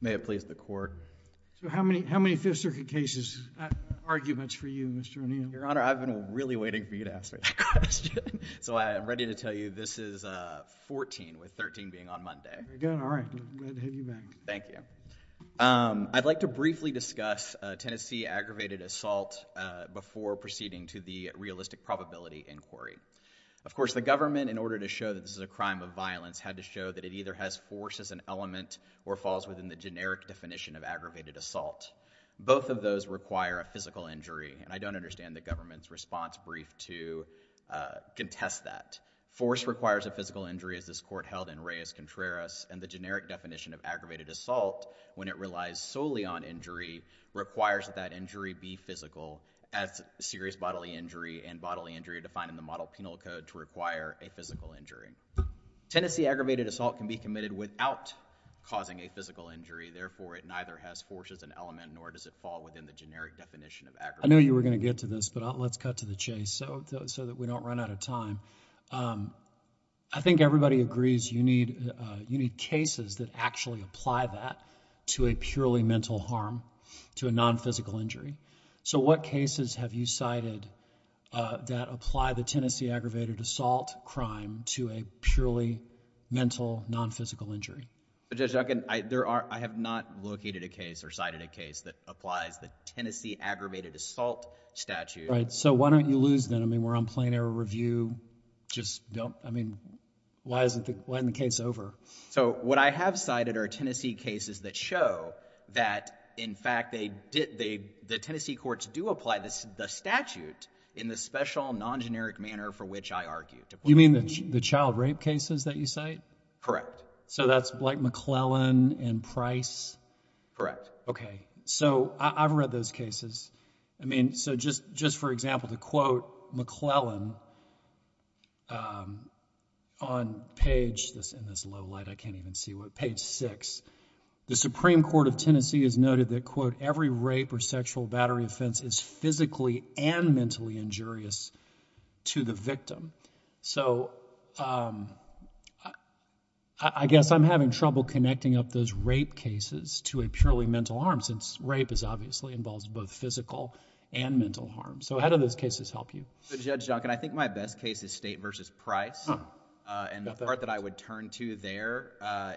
May it please the court. So how many Fifth Circuit cases, arguments for you, Mr. O'Neill? Your Honor, I've been really waiting for you to ask me that question. So I'm ready to tell you this is 14, with 13 being on Monday. Very good. All right. Glad to have you back. Thank you. I'd like to briefly discuss Tennessee aggravated assault before proceeding to the realistic probability inquiry. Of course, the government, in order to show that this is a crime of violence, had to show that it either has force as an element or falls within the generic definition of aggravated assault. Both of those require a physical injury. And I don't understand the government's response brief to contest that. Force requires a physical injury, as this court held in Reyes-Contreras. And the generic definition of aggravated assault, when it relies solely on injury, requires that that injury be physical as serious bodily injury and bodily injury defined in the model penal code to require a physical injury. Tennessee aggravated assault can be committed without causing a physical injury. Therefore, it neither has force as an element nor does it fall within the generic definition of aggravated assault. I knew you were going to get to this, but let's cut to the chase so that we don't run out of time. I think everybody agrees you need cases that actually apply that to a purely mental harm, to a non-physical injury. So what cases have you cited that apply the Tennessee aggravated assault crime to a purely mental, non-physical injury? Judge Duncan, I have not located a case or cited a case that applies the Tennessee aggravated assault statute. So why don't you lose them? I mean, we're on plain error review. Just don't. I mean, why isn't the case over? So what I have cited are Tennessee cases that show that, in fact, the Tennessee courts do apply the statute in the special, non-generic manner for which I argue. You mean the child rape cases that you cite? Correct. So that's like McClellan and Price? Correct. Okay. So I've read those cases. I mean, so just for example, to quote McClellan on page 6, the Supreme Court of Tennessee has noted that, quote, every rape or sexual battery offense is physically and mentally injurious to the victim. So I guess I'm having trouble connecting up those rape cases to a purely mental harm, since rape obviously involves both physical and mental harm. So how do those cases help you? Judge Duncan, I think my best case is State v. Price. And the part that I would turn to there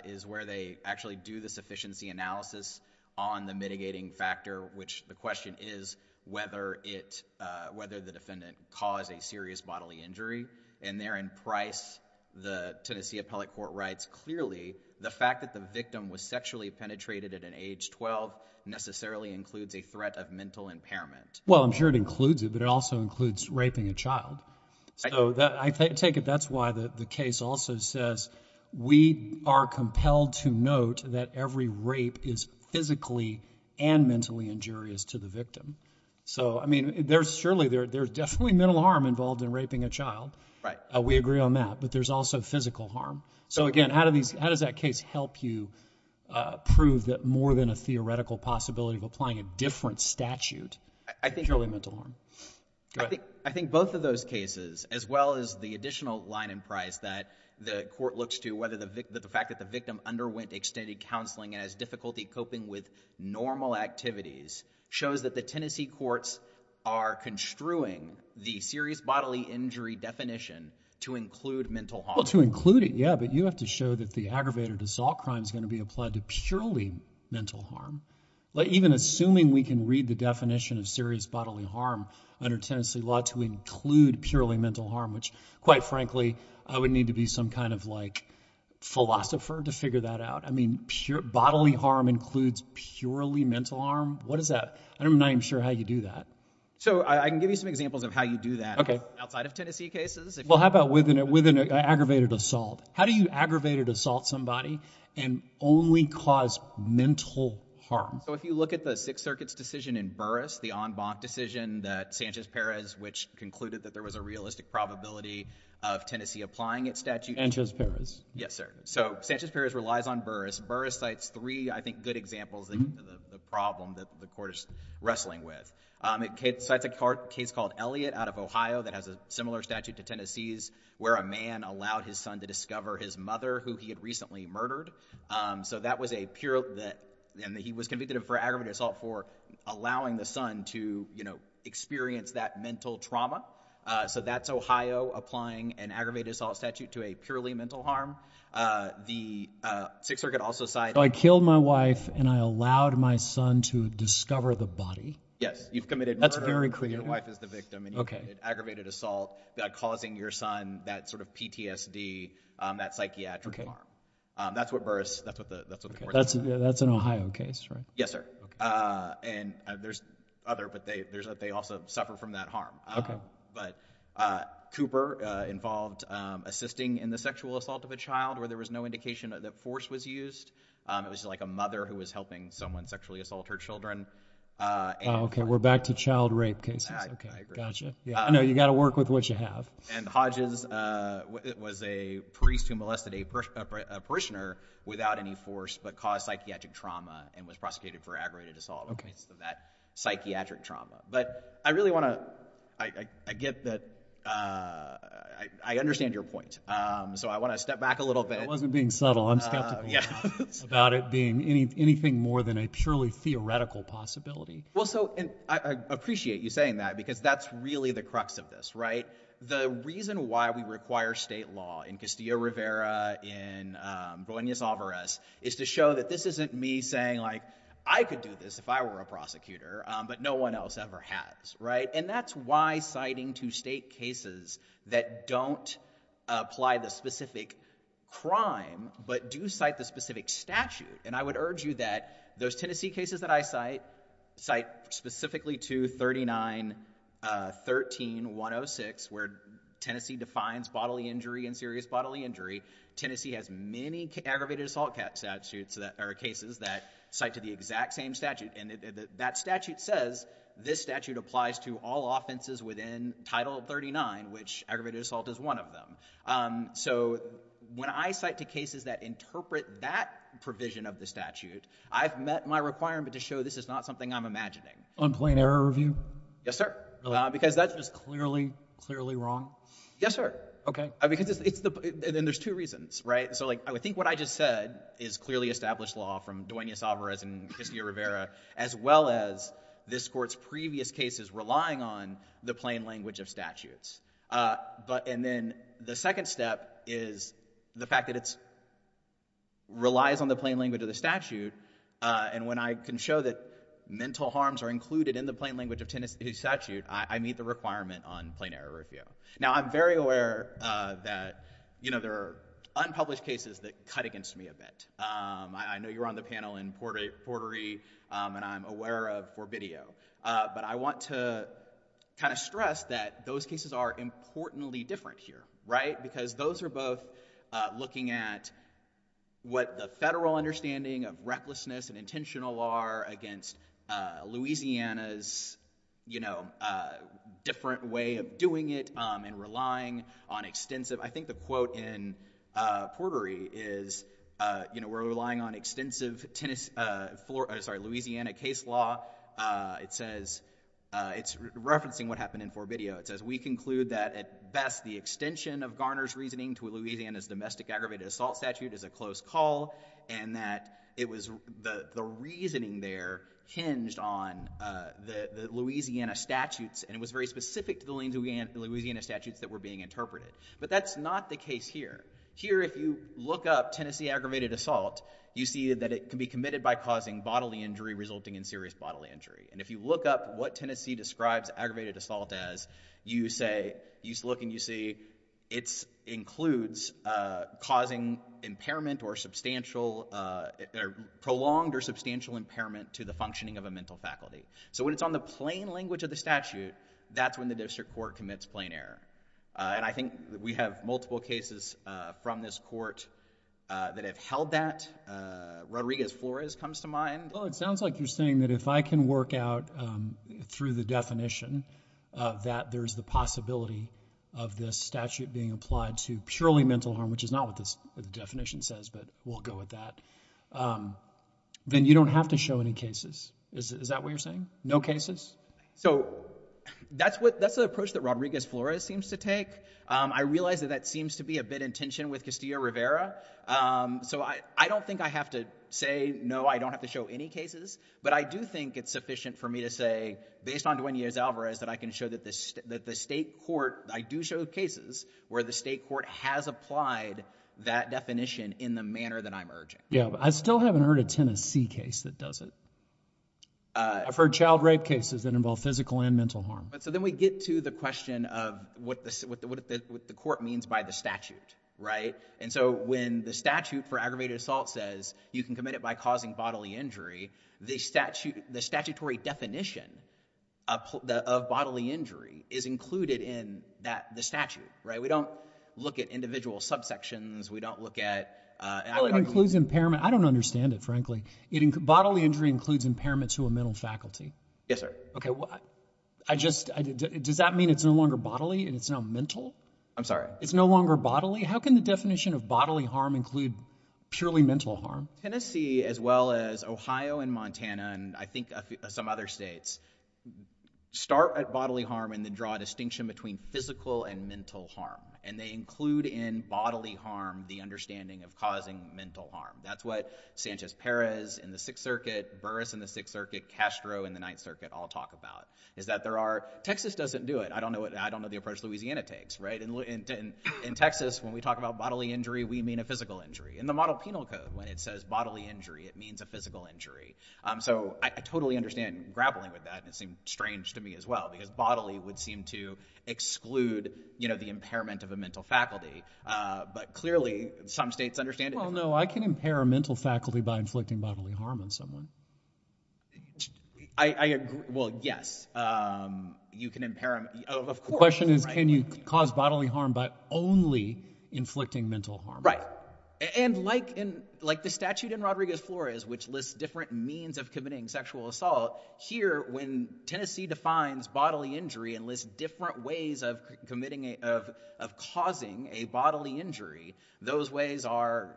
is where they actually do the sufficiency analysis on the mitigating factor, which the question is whether the defendant caused a serious bodily injury. And there in Price, the Tennessee appellate court writes, clearly the fact that the victim was sexually penetrated at an age 12 necessarily includes a threat of mental impairment. Well, I'm sure it includes it, but it also includes raping a child. So I take it that's why the case also says we are compelled to note that every rape is physically and mentally injurious to the victim. So, I mean, surely there's definitely mental harm involved in raping a child. We agree on that. But there's also physical harm. So, again, how does that case help you prove that more than a theoretical possibility of applying a different statute is purely mental harm? Go ahead. Well, I think both of those cases, as well as the additional line in Price that the court looks to, whether the fact that the victim underwent extended counseling and has difficulty coping with normal activities, shows that the Tennessee courts are construing the serious bodily injury definition to include mental harm. Well, to include it, yeah, but you have to show that the aggravated assault crime is going to be applied to purely mental harm. Even assuming we can read the definition of serious bodily harm under Tennessee law to include purely mental harm, which, quite frankly, I would need to be some kind of philosopher to figure that out. I mean, bodily harm includes purely mental harm? What is that? I'm not even sure how you do that. So I can give you some examples of how you do that outside of Tennessee cases. Well, how about with an aggravated assault? How do you aggravate or assault somebody and only cause mental harm? So if you look at the Sixth Circuit's decision in Burris, the en banc decision that Sanchez-Perez, which concluded that there was a realistic probability of Tennessee applying its statute. Sanchez-Perez. Yes, sir. So Sanchez-Perez relies on Burris. Burris cites three, I think, good examples of the problem that the court is wrestling with. It cites a case called Elliott out of Ohio that has a similar statute to Tennessee's, where a man allowed his son to discover his mother, who he had recently murdered. So that was a pure—and he was convicted of aggravated assault for allowing the son to experience that mental trauma. So that's Ohio applying an aggravated assault statute to a purely mental harm. The Sixth Circuit also cited— So I killed my wife and I allowed my son to discover the body? Yes. You've committed murder. That's very clear. Your wife is the victim, and you committed aggravated assault, causing your son that sort of PTSD, that psychiatric harm. That's what Burris—that's what the court says. That's an Ohio case, right? Yes, sir. And there's other, but they also suffer from that harm. But Cooper involved assisting in the sexual assault of a child where there was no indication that force was used. It was like a mother who was helping someone sexually assault her children. Okay, we're back to child rape cases. I agree. I know you've got to work with what you have. And Hodges was a priest who molested a parishioner without any force but caused psychiatric trauma and was prosecuted for aggravated assault in the case of that psychiatric trauma. But I really want to—I get that—I understand your point. So I want to step back a little bit. I wasn't being subtle. I'm skeptical about it being anything more than a purely theoretical possibility. Well, so I appreciate you saying that because that's really the crux of this, right? The reason why we require state law in Castillo-Rivera, in Buenos Aires, is to show that this isn't me saying, like, I could do this if I were a prosecutor, but no one else ever has, right? And that's why citing to state cases that don't apply the specific crime but do cite the specific statute. And I would urge you that those Tennessee cases that I cite cite specifically to 3913-106 where Tennessee defines bodily injury and serious bodily injury. Tennessee has many aggravated assault cases that cite to the exact same statute. And that statute says this statute applies to all offenses within Title 39, which aggravated assault is one of them. So when I cite to cases that interpret that provision of the statute, I've met my requirement to show this is not something I'm imagining. On plain error review? Yes, sir. Really? Because that's just— Just clearly, clearly wrong? Yes, sir. Okay. Because it's the—and there's two reasons, right? So, like, I would think what I just said is clearly established law from Duenas-Alvarez and Castillo-Rivera as well as this court's previous cases relying on the plain language of statutes. And then the second step is the fact that it relies on the plain language of the statute. And when I can show that mental harms are included in the plain language of Tennessee statute, I meet the requirement on plain error review. Now, I'm very aware that, you know, there are unpublished cases that cut against me a bit. I know you're on the panel in Portery, and I'm aware of Forbidio. But I want to kind of stress that those cases are importantly different here, right? Because those are both looking at what the federal understanding of recklessness and intentional are against Louisiana's, you know, different way of doing it and relying on extensive— I think the quote in Portery is, you know, we're relying on extensive Tennessee—sorry, Louisiana case law. It says—it's referencing what happened in Forbidio. It says, we conclude that at best the extension of Garner's reasoning to Louisiana's domestic aggravated assault statute is a close call and that it was—the reasoning there hinged on the Louisiana statutes. And it was very specific to the Louisiana statutes that were being interpreted. But that's not the case here. Here, if you look up Tennessee aggravated assault, you see that it can be committed by causing bodily injury resulting in serious bodily injury. And if you look up what Tennessee describes aggravated assault as, you say—you look and you see it includes causing impairment or substantial—prolonged or substantial impairment to the functioning of a mental faculty. So when it's on the plain language of the statute, that's when the district court commits plain error. And I think we have multiple cases from this court that have held that. Rodriguez-Flores comes to mind. Well, it sounds like you're saying that if I can work out through the definition that there's the possibility of this statute being applied to purely mental harm, which is not what the definition says, but we'll go with that, then you don't have to show any cases. Is that what you're saying? No cases? So that's what—that's the approach that Rodriguez-Flores seems to take. I realize that that seems to be a bit in tension with Castillo-Rivera. So I don't think I have to say, no, I don't have to show any cases. But I do think it's sufficient for me to say, based on Duenas-Alvarez, that I can show that the state court—I do show cases where the state court has applied that definition in the manner that I'm urging. Yeah, but I still haven't heard a Tennessee case that does it. I've heard child rape cases that involve physical and mental harm. So then we get to the question of what the court means by the statute. And so when the statute for aggravated assault says you can commit it by causing bodily injury, the statutory definition of bodily injury is included in the statute. We don't look at individual subsections. We don't look at— Well, it includes impairment. I don't understand it, frankly. Bodily injury includes impairment to a mental faculty. Yes, sir. Does that mean it's no longer bodily and it's now mental? I'm sorry? It's no longer bodily? How can the definition of bodily harm include purely mental harm? Tennessee, as well as Ohio and Montana and I think some other states, start at bodily harm and then draw a distinction between physical and mental harm. And they include in bodily harm the understanding of causing mental harm. That's what Sanchez Perez in the Sixth Circuit, Burris in the Sixth Circuit, Castro in the Ninth Circuit all talk about, is that there are—Texas doesn't do it. I don't know the approach Louisiana takes. In Texas, when we talk about bodily injury, we mean a physical injury. In the model penal code, when it says bodily injury, it means a physical injury. So I totally understand grappling with that, and it seemed strange to me as well, because bodily would seem to exclude the impairment of a mental faculty. But clearly, some states understand it differently. Well, no, I can impair a mental faculty by inflicting bodily harm on someone. I agree. Well, yes. You can impair—of course. The question is, can you cause bodily harm by only inflicting mental harm? And like the statute in Rodriguez-Flores, which lists different means of committing sexual assault, here, when Tennessee defines bodily injury and lists different ways of causing a bodily injury, those ways are—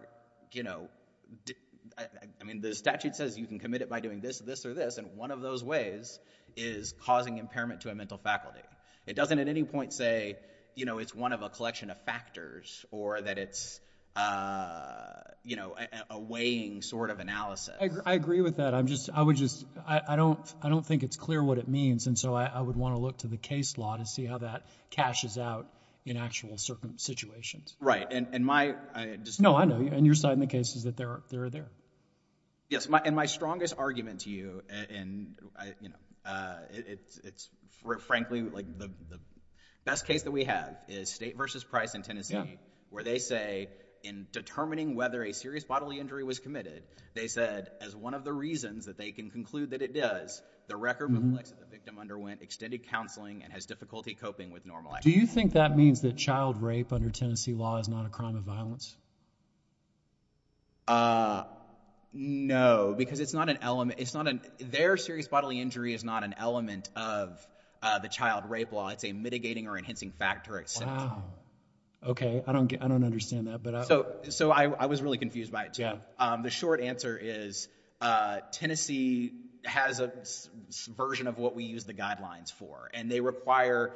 I mean, the statute says you can commit it by doing this, this, or this, and one of those ways is causing impairment to a mental faculty. It doesn't at any point say it's one of a collection of factors or that it's a weighing sort of analysis. I agree with that. I would just—I don't think it's clear what it means, and so I would want to look to the case law to see how that cashes out in actual situations. Right. And my— No, I know. And your side in the case is that they're there. Yes, and my strongest argument to you, and, you know, it's—frankly, like the best case that we have is State v. Price in Tennessee where they say in determining whether a serious bodily injury was committed, they said as one of the reasons that they can conclude that it does, the record of the victim underwent extended counseling and has difficulty coping with normal action. Do you think that means that child rape under Tennessee law is not a crime of violence? No, because it's not an element—it's not an—their serious bodily injury is not an element of the child rape law. It's a mitigating or enhancing factor. Wow. Okay. I don't get—I don't understand that, but— So I was really confused by it, too. Yeah. The short answer is Tennessee has a version of what we use the guidelines for, and they require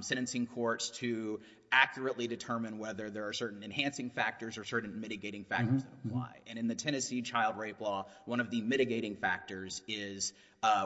sentencing courts to accurately determine whether there are certain enhancing factors or certain mitigating factors that apply. And in the Tennessee child rape law, one of the mitigating factors is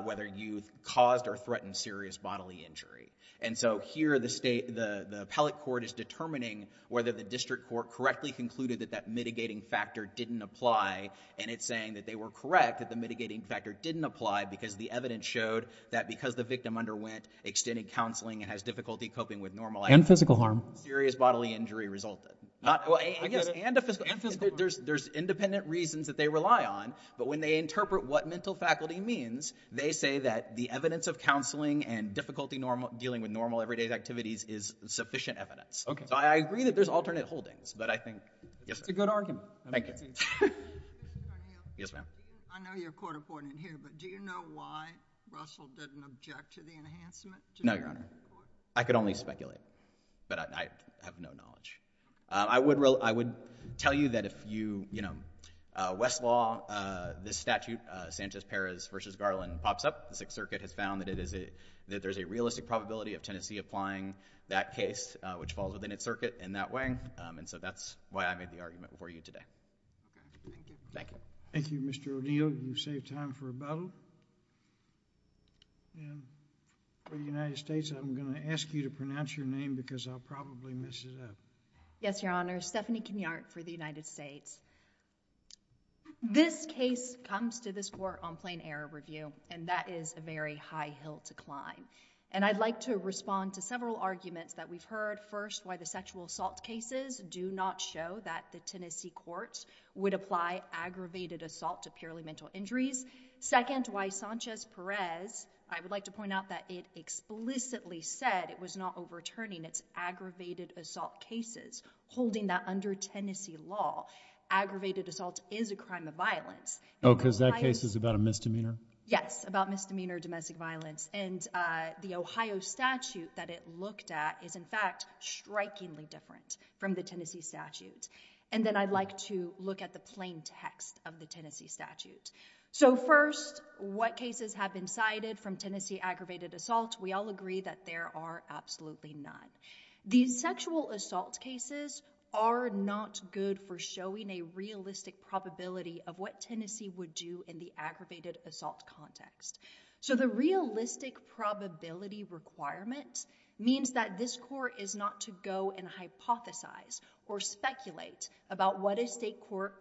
whether you caused or threatened serious bodily injury. And so here the state—the appellate court is determining whether the district court correctly concluded that that mitigating factor didn't apply, and it's saying that they were correct that the mitigating factor didn't apply because the evidence showed that because the victim underwent extended counseling and has difficulty coping with normal action— And physical harm. —serious bodily injury resulted. I get it. And physical harm. There's independent reasons that they rely on, but when they interpret what mental faculty means, they say that the evidence of counseling and difficulty dealing with normal, everyday activities is sufficient evidence. Okay. So I agree that there's alternate holdings, but I think— That's a good argument. Thank you. Yes, ma'am. I know you're a court appointed here, but do you know why Russell didn't object to the enhancement? No, Your Honor. I could only speculate, but I have no knowledge. I would tell you that if you—Westlaw, this statute, Sanchez-Perez v. Garland, pops up. The Sixth Circuit has found that there's a realistic probability of Tennessee applying that case, which falls within its circuit in that way. And so that's why I made the argument before you today. Okay. Thank you. Thank you. Thank you, Mr. O'Neill. You saved time for a battle. For the United States, I'm going to ask you to pronounce your name because I'll probably mess it up. Yes, Your Honor. Stephanie Kenyart for the United States. This case comes to this court on plain error review, and that is a very high hill to climb. And I'd like to respond to several arguments that we've heard. First, why the sexual assault cases do not show that the Tennessee courts would apply aggravated assault to purely mental injuries. Second, why Sanchez-Perez—I would like to point out that it explicitly said it was not overturning its aggravated assault cases, holding that under Tennessee law. Aggravated assault is a crime of violence. Oh, because that case is about a misdemeanor? Yes, about misdemeanor domestic violence. And the Ohio statute that it looked at is, in fact, strikingly different from the Tennessee statute. And then I'd like to look at the plain text of the Tennessee statute. So first, what cases have been cited from Tennessee aggravated assault? We all agree that there are absolutely none. These sexual assault cases are not good for showing a realistic probability of what Tennessee would do in the aggravated assault context. So the realistic probability requirement means that this court is not to go and hypothesize or speculate about what a state court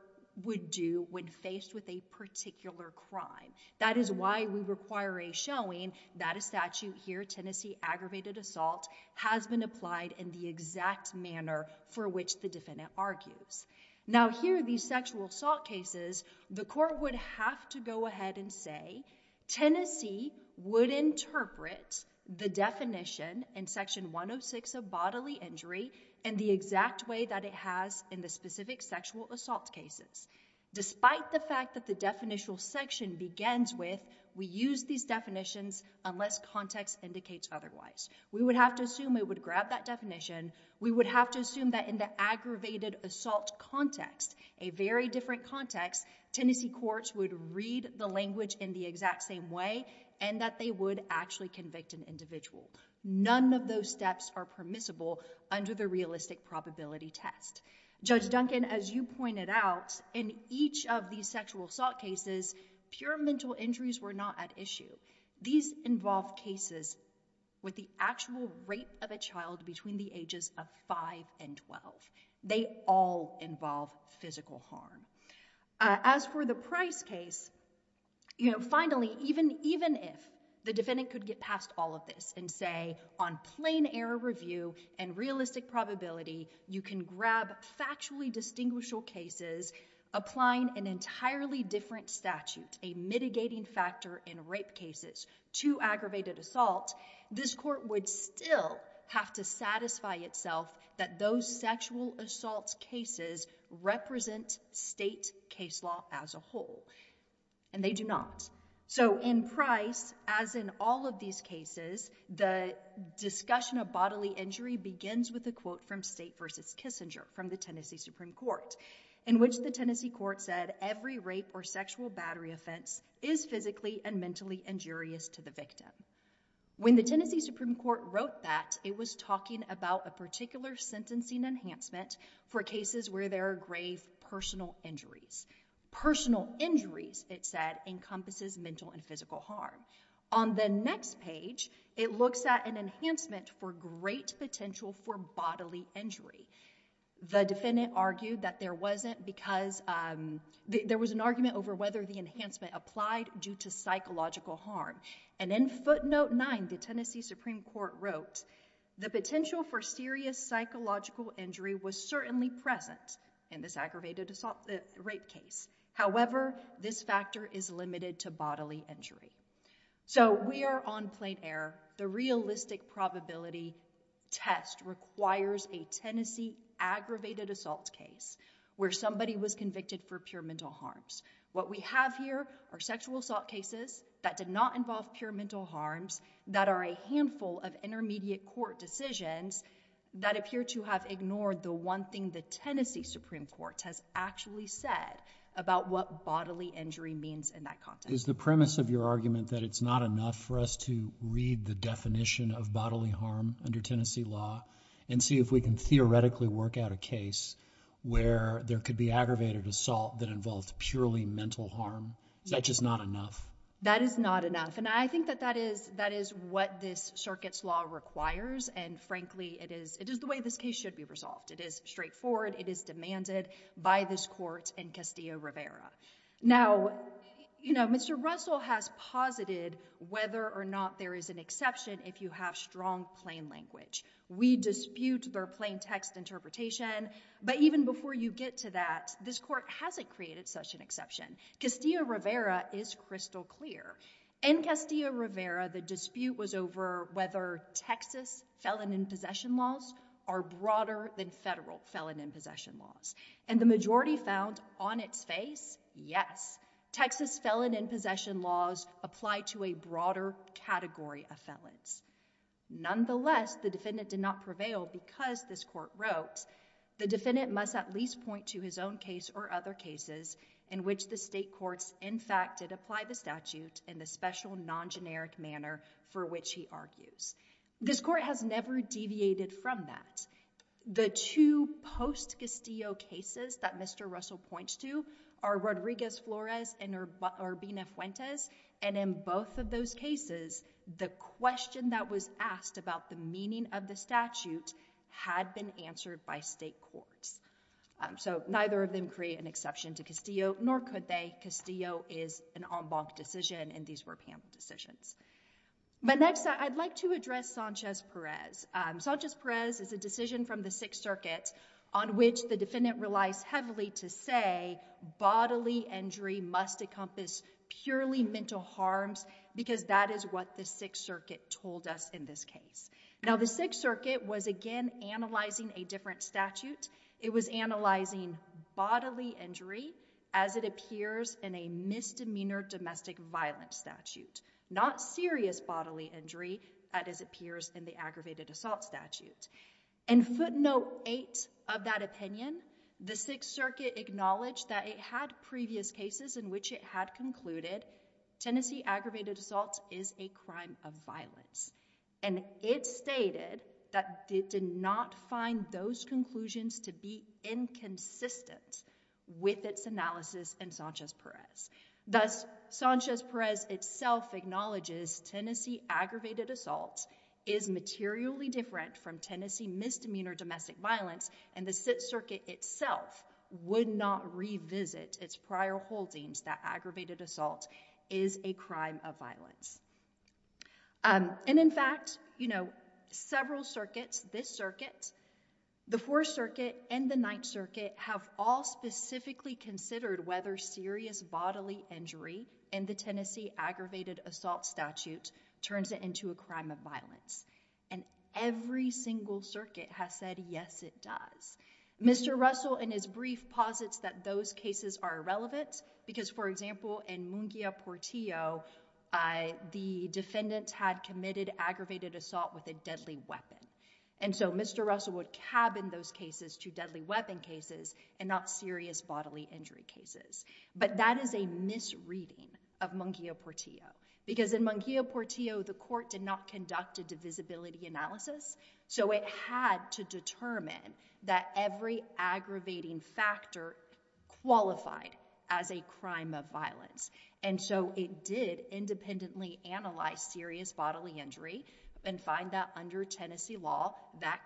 would do when faced with a particular crime. That is why we require a showing that a statute here, Tennessee aggravated assault, has been applied in the exact manner for which the defendant argues. Now, here are these sexual assault cases. The court would have to go ahead and say Tennessee would interpret the definition in section 106 of bodily injury in the exact way that it has in the specific sexual assault cases. Despite the fact that the definitional section begins with, we use these definitions unless context indicates otherwise. We would have to assume it would grab that definition. We would have to assume that in the aggravated assault context, a very different context, Tennessee courts would read the language in the exact same way and that they would actually convict an individual. None of those steps are permissible under the realistic probability test. Judge Duncan, as you pointed out, in each of these sexual assault cases, pure mental injuries were not at issue. These involve cases with the actual rape of a child between the ages of 5 and 12. They all involve physical harm. As for the Price case, finally, even if the defendant could get past all of this and say on plain error review and realistic probability, you can grab factually distinguishable cases applying an entirely different statute, a mitigating factor in rape cases, to aggravated assault, this court would still have to satisfy itself that those sexual assault cases represent state case law as a whole. And they do not. So in Price, as in all of these cases, the discussion of bodily injury begins with a quote from State v. Kissinger from the Tennessee Supreme Court, in which the Tennessee court said every rape or sexual battery offense is physically and mentally injurious to the victim. When the Tennessee Supreme Court wrote that, it was talking about a particular sentencing enhancement for cases where there are grave personal injuries. Personal injuries, it said, encompasses mental and physical harm. On the next page, it looks at an enhancement for great potential for bodily injury. The defendant argued that there was an argument over whether the enhancement applied due to psychological harm. And in footnote 9, the Tennessee Supreme Court wrote, the potential for serious psychological injury was certainly present in this aggravated assault rape case. However, this factor is limited to bodily injury. So we are on plain error. The realistic probability test requires a Tennessee aggravated assault case where somebody was convicted for pure mental harms. What we have here are sexual assault cases that did not involve pure mental harms, that are a handful of intermediate court decisions that appear to have ignored the one thing the Tennessee Supreme Court has actually said about what bodily injury means in that context. Is the premise of your argument that it's not enough for us to read the definition of bodily harm under Tennessee law and see if we can theoretically work out a case where there could be aggravated assault that involves purely mental harm? Is that just not enough? That is not enough. And I think that that is what this circuit's law requires. And frankly, it is the way this case should be resolved. It is straightforward. It is demanded by this court and Castillo-Rivera. Now, you know, Mr. Russell has posited whether or not there is an exception if you have strong plain language. We dispute their plain text interpretation. But even before you get to that, this court hasn't created such an exception. Castillo-Rivera is crystal clear. In Castillo-Rivera, the dispute was over whether Texas felon in possession laws are broader than federal felon in possession laws. And the majority found on its face, yes, Texas felon in possession laws apply to a broader category of felons. Nonetheless, the defendant did not prevail because, this court wrote, the defendant must at least point to his own case or other cases in which the state courts in fact did apply the statute in the special non-generic manner for which he argues. This court has never deviated from that. The two post-Castillo cases that Mr. Russell points to are Rodriguez-Flores and Urbina-Fuentes. And in both of those cases, the question that was asked about the meaning of the statute had been answered by state courts. So neither of them create an exception to Castillo, nor could they. Castillo is an en banc decision, and these were panel decisions. But next, I'd like to address Sanchez-Perez. Sanchez-Perez is a decision from the Sixth Circuit on which the defendant relies heavily to say bodily injury must encompass purely mental harms, because that is what the Sixth Circuit told us in this case. Now, the Sixth Circuit was again analyzing a different statute. It was analyzing bodily injury as it appears in a misdemeanor domestic violence statute, not serious bodily injury as it appears in the aggravated assault statute. In footnote 8 of that opinion, the Sixth Circuit acknowledged that it had previous cases in which it had concluded Tennessee aggravated assault is a crime of violence. And it stated that it did not find those conclusions to be inconsistent with its analysis in Sanchez-Perez. Thus, Sanchez-Perez itself acknowledges Tennessee aggravated assault is materially different from Tennessee misdemeanor domestic violence, and the Sixth Circuit itself would not revisit its prior holdings that aggravated assault is a crime of violence. And in fact, you know, several circuits, this circuit, the Fourth Circuit, and the Ninth Circuit, have all specifically considered whether serious bodily injury in the Tennessee aggravated assault statute turns it into a crime of violence. And every single circuit has said, yes, it does. Mr. Russell, in his brief, posits that those cases are irrelevant because, for example, in Munguia-Portillo, the defendants had committed aggravated assault with a deadly weapon. And so Mr. Russell would cabin those cases to deadly weapon cases and not serious bodily injury cases. But that is a misreading of Munguia-Portillo because in Munguia-Portillo, the court did not conduct a divisibility analysis. So it had to determine that every aggravating factor qualified as a crime of violence. And so it did independently analyze serious bodily injury and find that under Tennessee law, that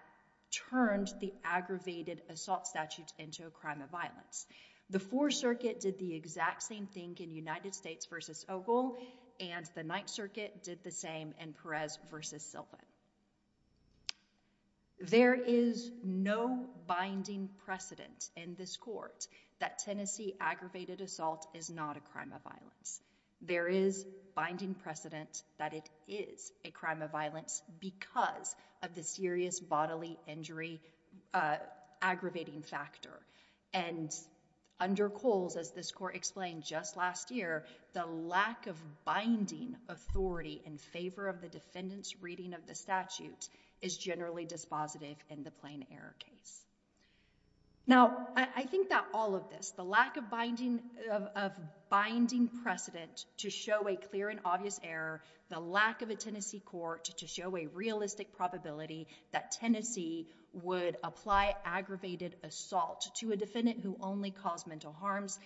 turned the aggravated assault statute into a crime of violence. The Fourth Circuit did the exact same thing in United States v. Ogle. And the Ninth Circuit did the same in Perez v. Silva. There is no binding precedent in this court that Tennessee aggravated assault is not a crime of violence. There is binding precedent that it is a crime of violence because of the serious bodily injury aggravating factor. And under Coles, as this court explained just last year, the lack of binding authority in favor of the defendant's reading of the statute is generally dispositive in the plain error case. Now, I think that all of this, the lack of binding precedent to show a clear and obvious error, the lack of a Tennessee court to show a realistic probability that Tennessee would apply aggravated assault to a defendant who only caused mental harms,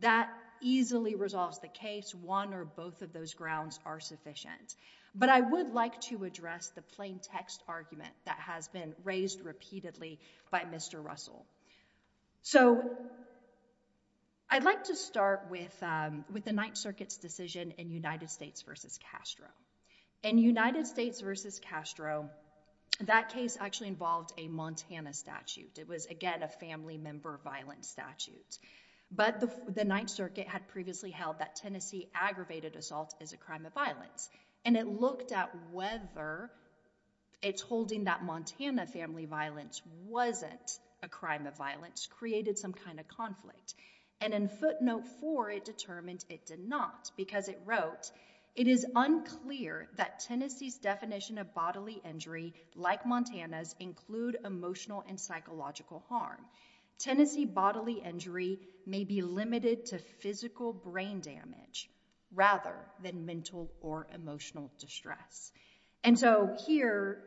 that easily resolves the case. One or both of those grounds are sufficient. But I would like to address the plain text argument that has been raised repeatedly by Mr. Russell. So I'd like to start with the Ninth Circuit's decision in United States v. Castro. In United States v. Castro, that case actually involved a Montana statute. It was, again, a family member violence statute. But the Ninth Circuit had previously held that Tennessee aggravated assault is a crime of violence. And it looked at whether it's holding that Montana family violence wasn't a crime of violence created some kind of conflict. And in footnote four, it determined it did not because it wrote, it is unclear that Tennessee's definition of bodily injury, like Montana's, include emotional and psychological harm. Tennessee bodily injury may be limited to physical brain damage rather than mental or emotional distress. And so here,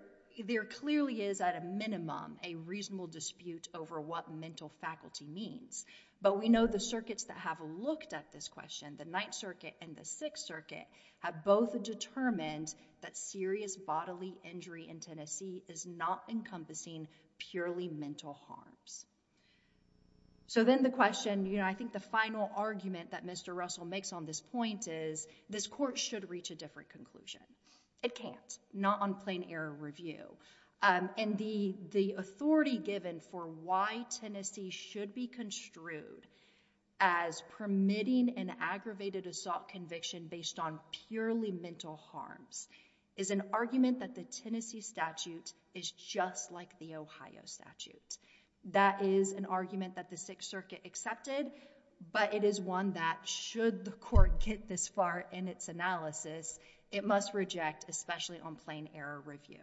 there clearly is at a minimum a reasonable dispute over what mental faculty means. But we know the circuits that have looked at this question, the Ninth Circuit and the Sixth Circuit, have both determined that serious bodily injury in Tennessee is not encompassing purely mental harms. So then the question, you know, I think the final argument that Mr. Russell makes on this point is, this court should reach a different conclusion. It can't, not on plain error review. And the authority given for why Tennessee should be construed as permitting an aggravated assault conviction based on purely mental harms is an argument that the Tennessee statute is just like the Ohio statute. That is an argument that the Sixth Circuit accepted, but it is one that should the court get this far in its analysis, it must reject, especially on plain error review.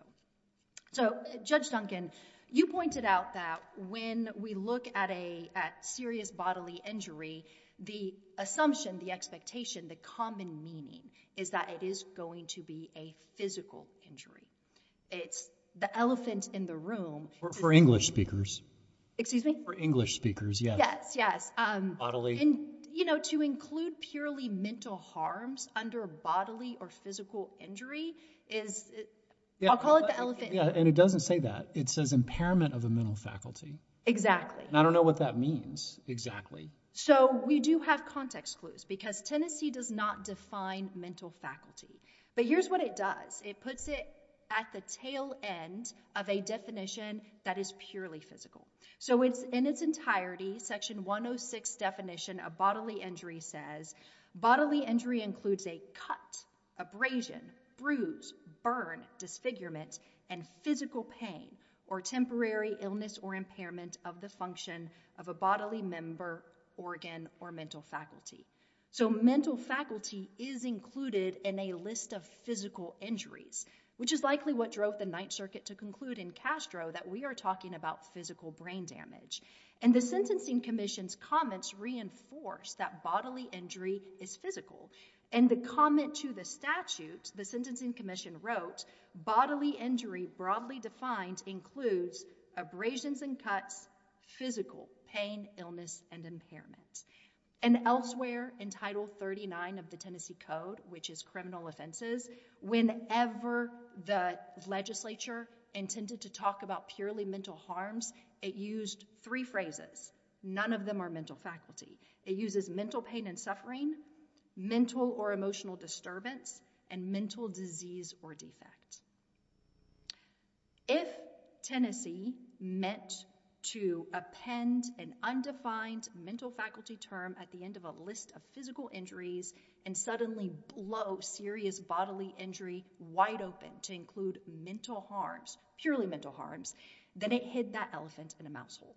So Judge Duncan, you pointed out that when we look at a serious bodily injury, the assumption, the expectation, the common meaning is that it is going to be a physical injury. It's the elephant in the room. For English speakers. Excuse me? For English speakers, yes. Yes, yes. You know, to include purely mental harms under bodily or physical injury is, I'll call it the elephant in the room. And it doesn't say that. It says impairment of the mental faculty. Exactly. And I don't know what that means, exactly. So we do have context clues, because Tennessee does not define mental faculty. But here's what it does. It puts it at the tail end of a definition that is purely physical. So in its entirety, Section 106 definition of bodily injury says bodily injury includes a cut, abrasion, bruise, burn, disfigurement, and physical pain or temporary illness or impairment of the function of a bodily member, organ, or mental faculty. So mental faculty is included in a list of physical injuries, which is likely what drove the Ninth Circuit to conclude in Castro that we are talking about physical brain damage. And the Sentencing Commission's comments reinforce that bodily injury is physical. And the comment to the statute, the Sentencing Commission wrote bodily injury broadly defined includes abrasions and cuts, physical pain, illness, and impairment. And elsewhere in Title 39 of the Tennessee Code, which is criminal offenses, whenever the legislature intended to talk about purely mental harms, it used three phrases. None of them are mental faculty. It uses mental pain and suffering, mental or emotional disturbance, and mental disease or defect. If Tennessee meant to append an undefined mental faculty term at the end of a list of physical injuries and suddenly blow serious bodily injury wide open to include mental harms, purely mental harms, then it hid that elephant in a mouse hole.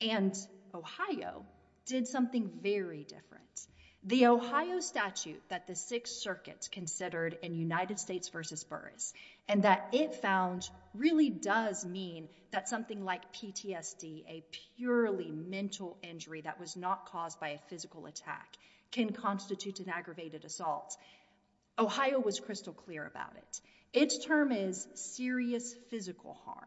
And Ohio did something very different. The Ohio statute that the Sixth Circuit considered in United States v. Burroughs and that it found really does mean that something like PTSD, a purely mental injury that was not caused by a physical attack, can constitute an aggravated assault. Ohio was crystal clear about it. Its term is serious physical harm.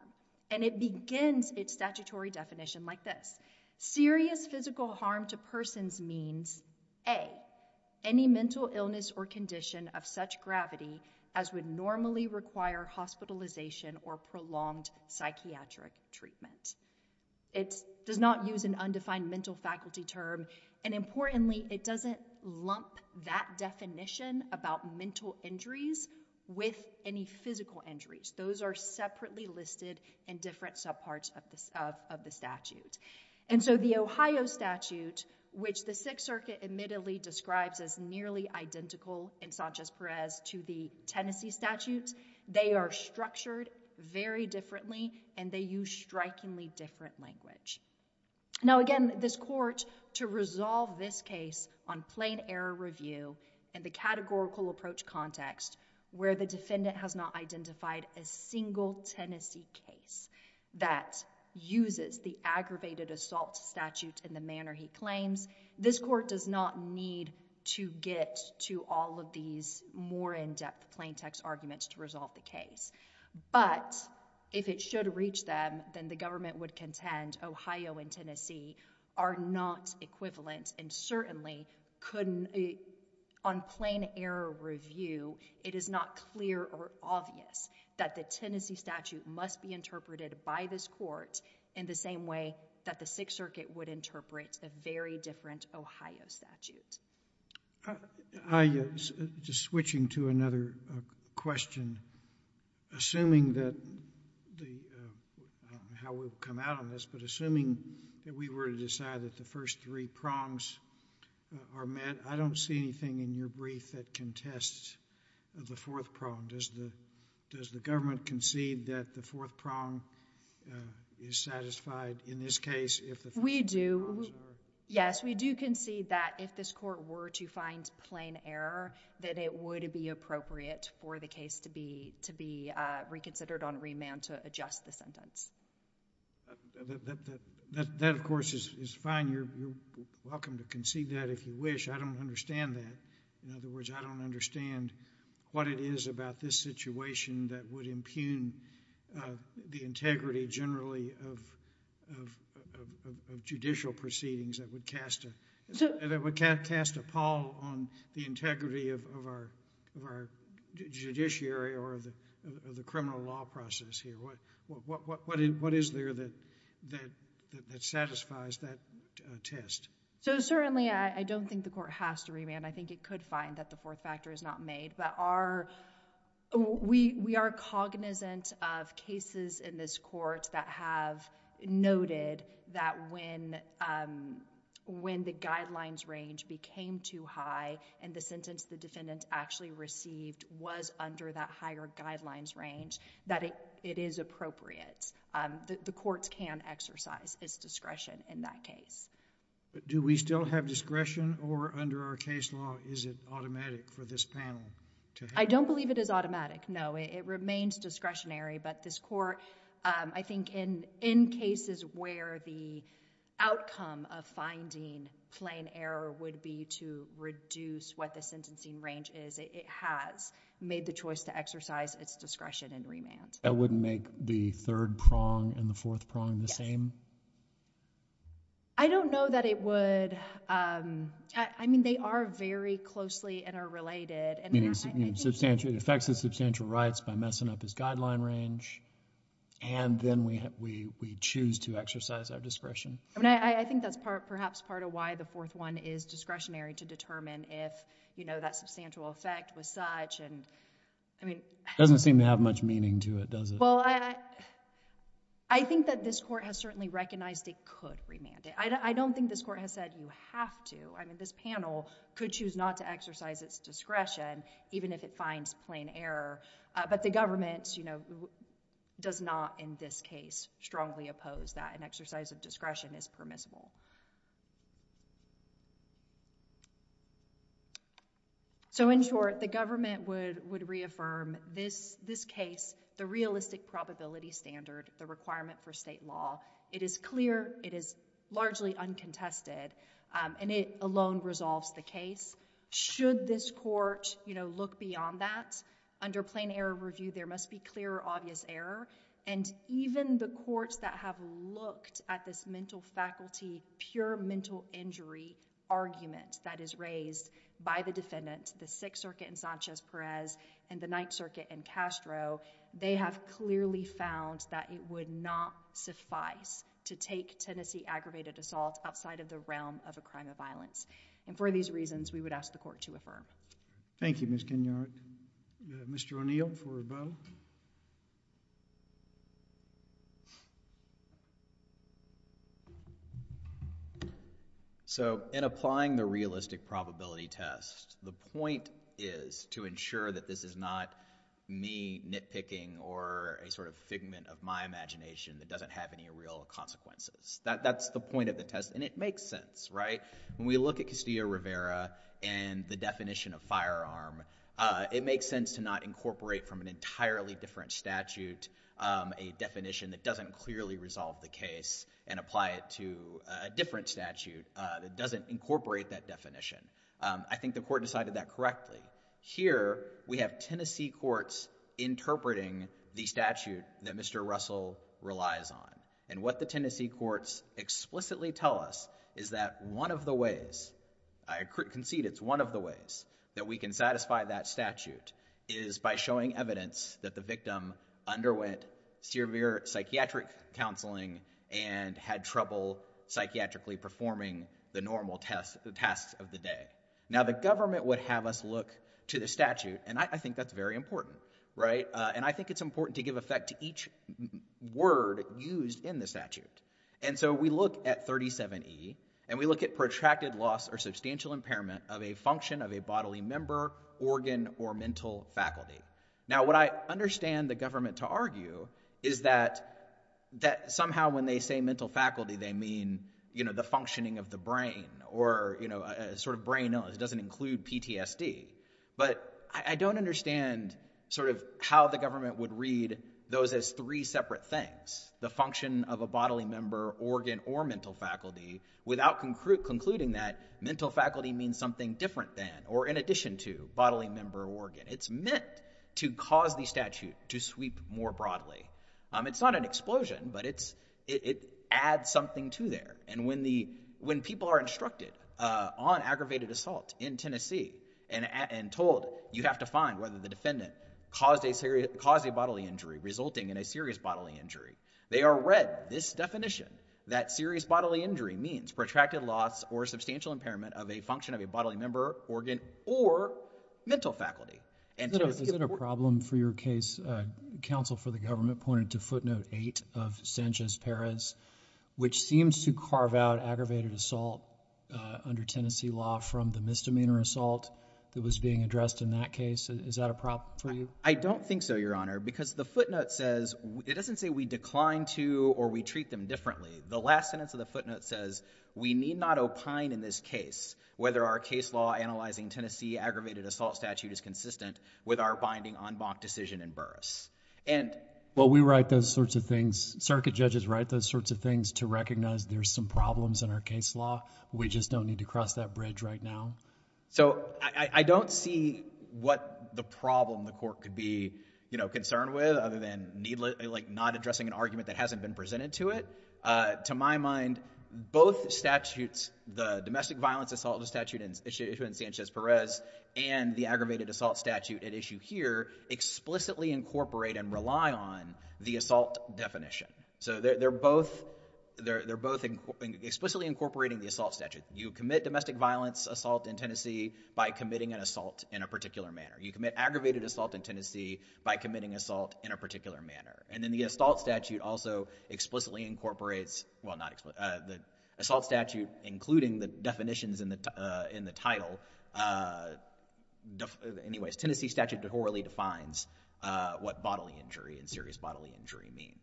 And it begins its statutory definition like this. Serious physical harm to persons means, A, any mental illness or condition of such gravity as would normally require hospitalization or prolonged psychiatric treatment. It does not use an undefined mental faculty term. And importantly, it doesn't lump that definition about mental injuries with any physical injuries. Those are separately listed in different subparts of the statute. And so the Ohio statute, which the Sixth Circuit admittedly describes as nearly identical in Sanchez-Perez to the Tennessee statutes, they are structured very differently and they use strikingly different language. Now again, this court, to resolve this case on plain error review and the categorical approach context, where the defendant has not identified a single Tennessee case that uses the aggravated assault statute in the manner he claims, this court does not need to get to all of these more in-depth plain text arguments to resolve the case. But if it should reach them, then the government would contend Ohio and Tennessee are not equivalent. And certainly, on plain error review, it is not clear or obvious that the Tennessee statute must be interpreted by this court in the same way that the Sixth Circuit would interpret a very different Ohio statute. I'm just switching to another question. Assuming that the, I don't know how we'll come out of this, but assuming that we were to decide that the first three prongs are met, I don't see anything in your brief that contests the fourth prong. Does the government concede that the fourth prong is satisfied in this case if the first three prongs are met? If we do, yes, we do concede that if this court were to find plain error, that it would be appropriate for the case to be reconsidered on remand to adjust the sentence. That, of course, is fine. You're welcome to concede that if you wish. I don't understand that. In other words, I don't understand what it is about this situation that would impugn the integrity generally of judicial proceedings that would cast a pall on the integrity of our judiciary or the criminal law process here. What is there that satisfies that test? So certainly, I don't think the court has to remand. I think it could find that the fourth factor is not made. We are cognizant of cases in this court that have noted that when the guidelines range became too high and the sentence the defendant actually received was under that higher guidelines range, that it is appropriate. The courts can exercise its discretion in that case. But do we still have discretion, or under our case law, is it automatic for this panel? I don't believe it is automatic, no. It remains discretionary, but this court, I think in cases where the outcome of finding plain error would be to reduce what the sentencing range is, it has made the choice to exercise its discretion in remand. That wouldn't make the third prong and the fourth prong the same? I don't know that it would. I mean, they are very closely interrelated. Meaning, it affects his substantial rights by messing up his guideline range, and then we choose to exercise our discretion. I think that's perhaps part of why the fourth one is discretionary, to determine if that substantial effect was such. It doesn't seem to have much meaning to it, does it? Well, I think that this court has certainly recognized it could remand it. I don't think this court has said you have to. I mean, this panel could choose not to exercise its discretion, even if it finds plain error. But the government does not, in this case, strongly oppose that. An exercise of discretion is permissible. So, in short, the government would reaffirm this case, the realistic probability standard, the requirement for state law. It is clear, it is largely uncontested, and it alone resolves the case. Should this court look beyond that, under plain error review, there must be clear, obvious error. And even the courts that have looked at this mental faculty, pure mental injury argument that is raised by the defendants, the Sixth Circuit in Sanchez-Perez and the Ninth Circuit in Castro, they have clearly found that it would not suffice to take Tennessee aggravated assault outside of the realm of a crime of violence. And for these reasons, we would ask the court to affirm. Thank you, Ms. Kenyard. Mr. O'Neill for rebuttal. So, in applying the realistic probability test, the point is to ensure that this is not me nitpicking or a sort of figment of my imagination that doesn't have any real consequences. That's the point of the test, and it makes sense, right? When we look at Castillo-Rivera and the definition of firearm, it makes sense to not incorporate from an entirely different statute a definition that doesn't clearly resolve the case and apply it to a different statute that doesn't incorporate that definition. I think the court decided that correctly. Here, we have Tennessee courts interpreting the statute that Mr. Russell relies on. And what the Tennessee courts explicitly tell us is that one of the ways— I concede it's one of the ways— that we can satisfy that statute is by showing evidence that the victim underwent severe psychiatric counseling and had trouble psychiatrically performing the normal tasks of the day. Now, the government would have us look to the statute, and I think that's very important, right? And I think it's important to give effect to each word used in the statute. And so we look at 37E, and we look at protracted loss or substantial impairment of a function of a bodily member, organ, or mental faculty. Now, what I understand the government to argue is that somehow when they say mental faculty, they mean, you know, the functioning of the brain or, you know, a sort of brain illness. It doesn't include PTSD. But I don't understand sort of how the government would read those as three separate things, the function of a bodily member, organ, or mental faculty, without concluding that mental faculty means something different than or in addition to bodily member or organ. It's meant to cause the statute to sweep more broadly. It's not an explosion, but it adds something to there. And when people are instructed on aggravated assault in Tennessee and told you have to find whether the defendant caused a bodily injury resulting in a serious bodily injury, they are read this definition that serious bodily injury means protracted loss or substantial impairment of a function of a bodily member, organ, or mental faculty. Is it a problem for your case, counsel for the government pointed to footnote 8 of Sanchez-Perez, which seems to carve out aggravated assault under Tennessee law from the misdemeanor assault that was being addressed in that case. Is that a problem for you? I don't think so, Your Honor, because the footnote says it doesn't say we decline to or we treat them differently. The last sentence of the footnote says we need not opine in this case whether our case law analyzing Tennessee aggravated assault statute is consistent with our binding en banc decision in Burris. Well, we write those sorts of things. Circuit judges write those sorts of things to recognize there's some problems in our case law. We just don't need to cross that bridge right now. So I don't see what the problem the court could be concerned with other than not addressing an argument that hasn't been presented to it. To my mind, both statutes, the domestic violence assault statute issued in Sanchez-Perez and the aggravated assault statute at issue here explicitly incorporate and rely on the assault definition. So they're both explicitly incorporating the assault statute. You commit domestic violence assault in Tennessee by committing an assault in a particular manner. You commit aggravated assault in Tennessee by committing assault in a particular manner. And then the assault statute also explicitly incorporates, well, not explicitly, the assault statute including the definitions in the title. Anyways, Tennessee statute thoroughly defines what bodily injury and serious bodily injury mean.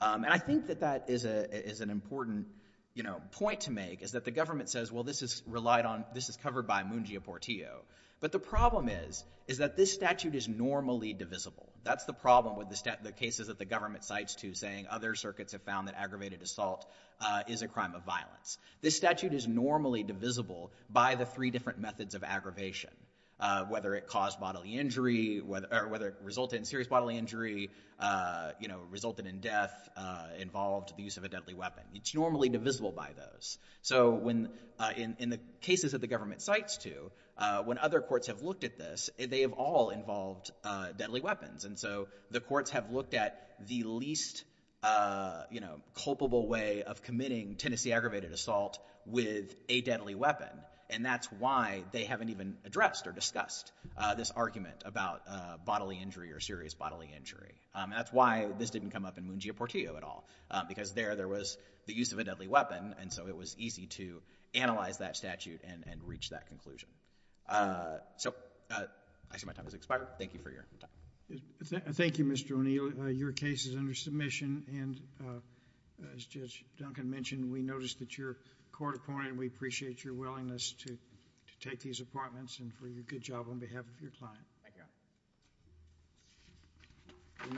And I think that that is an important, you know, point to make is that the government says, well, this is relied on, this is covered by Mungia Portillo. But the problem is, is that this statute is normally divisible. That's the problem with the cases that the government cites to saying other circuits have found that aggravated assault is a crime of violence. This statute is normally divisible by the three different methods of aggravation, whether it caused bodily injury, or whether it resulted in serious bodily injury, you know, resulted in death, involved the use of a deadly weapon. It's normally divisible by those. So in the cases that the government cites to, when other courts have looked at this, they have all involved deadly weapons. And so the courts have looked at the least, you know, culpable way of committing Tennessee aggravated assault with a deadly weapon. And that's why they haven't even addressed or discussed this argument about bodily injury or serious bodily injury. That's why this didn't come up in Mungia Portillo at all, because there, there was the use of a deadly weapon, and so it was easy to analyze that statute and reach that conclusion. So, actually, my time has expired. Thank you for your time. Thank you, Mr. O'Neill. Your case is under submission, and as Judge Duncan mentioned, we noticed that you're a court opponent, and we appreciate your willingness to take these appointments and for your good job on behalf of your client. Thank you.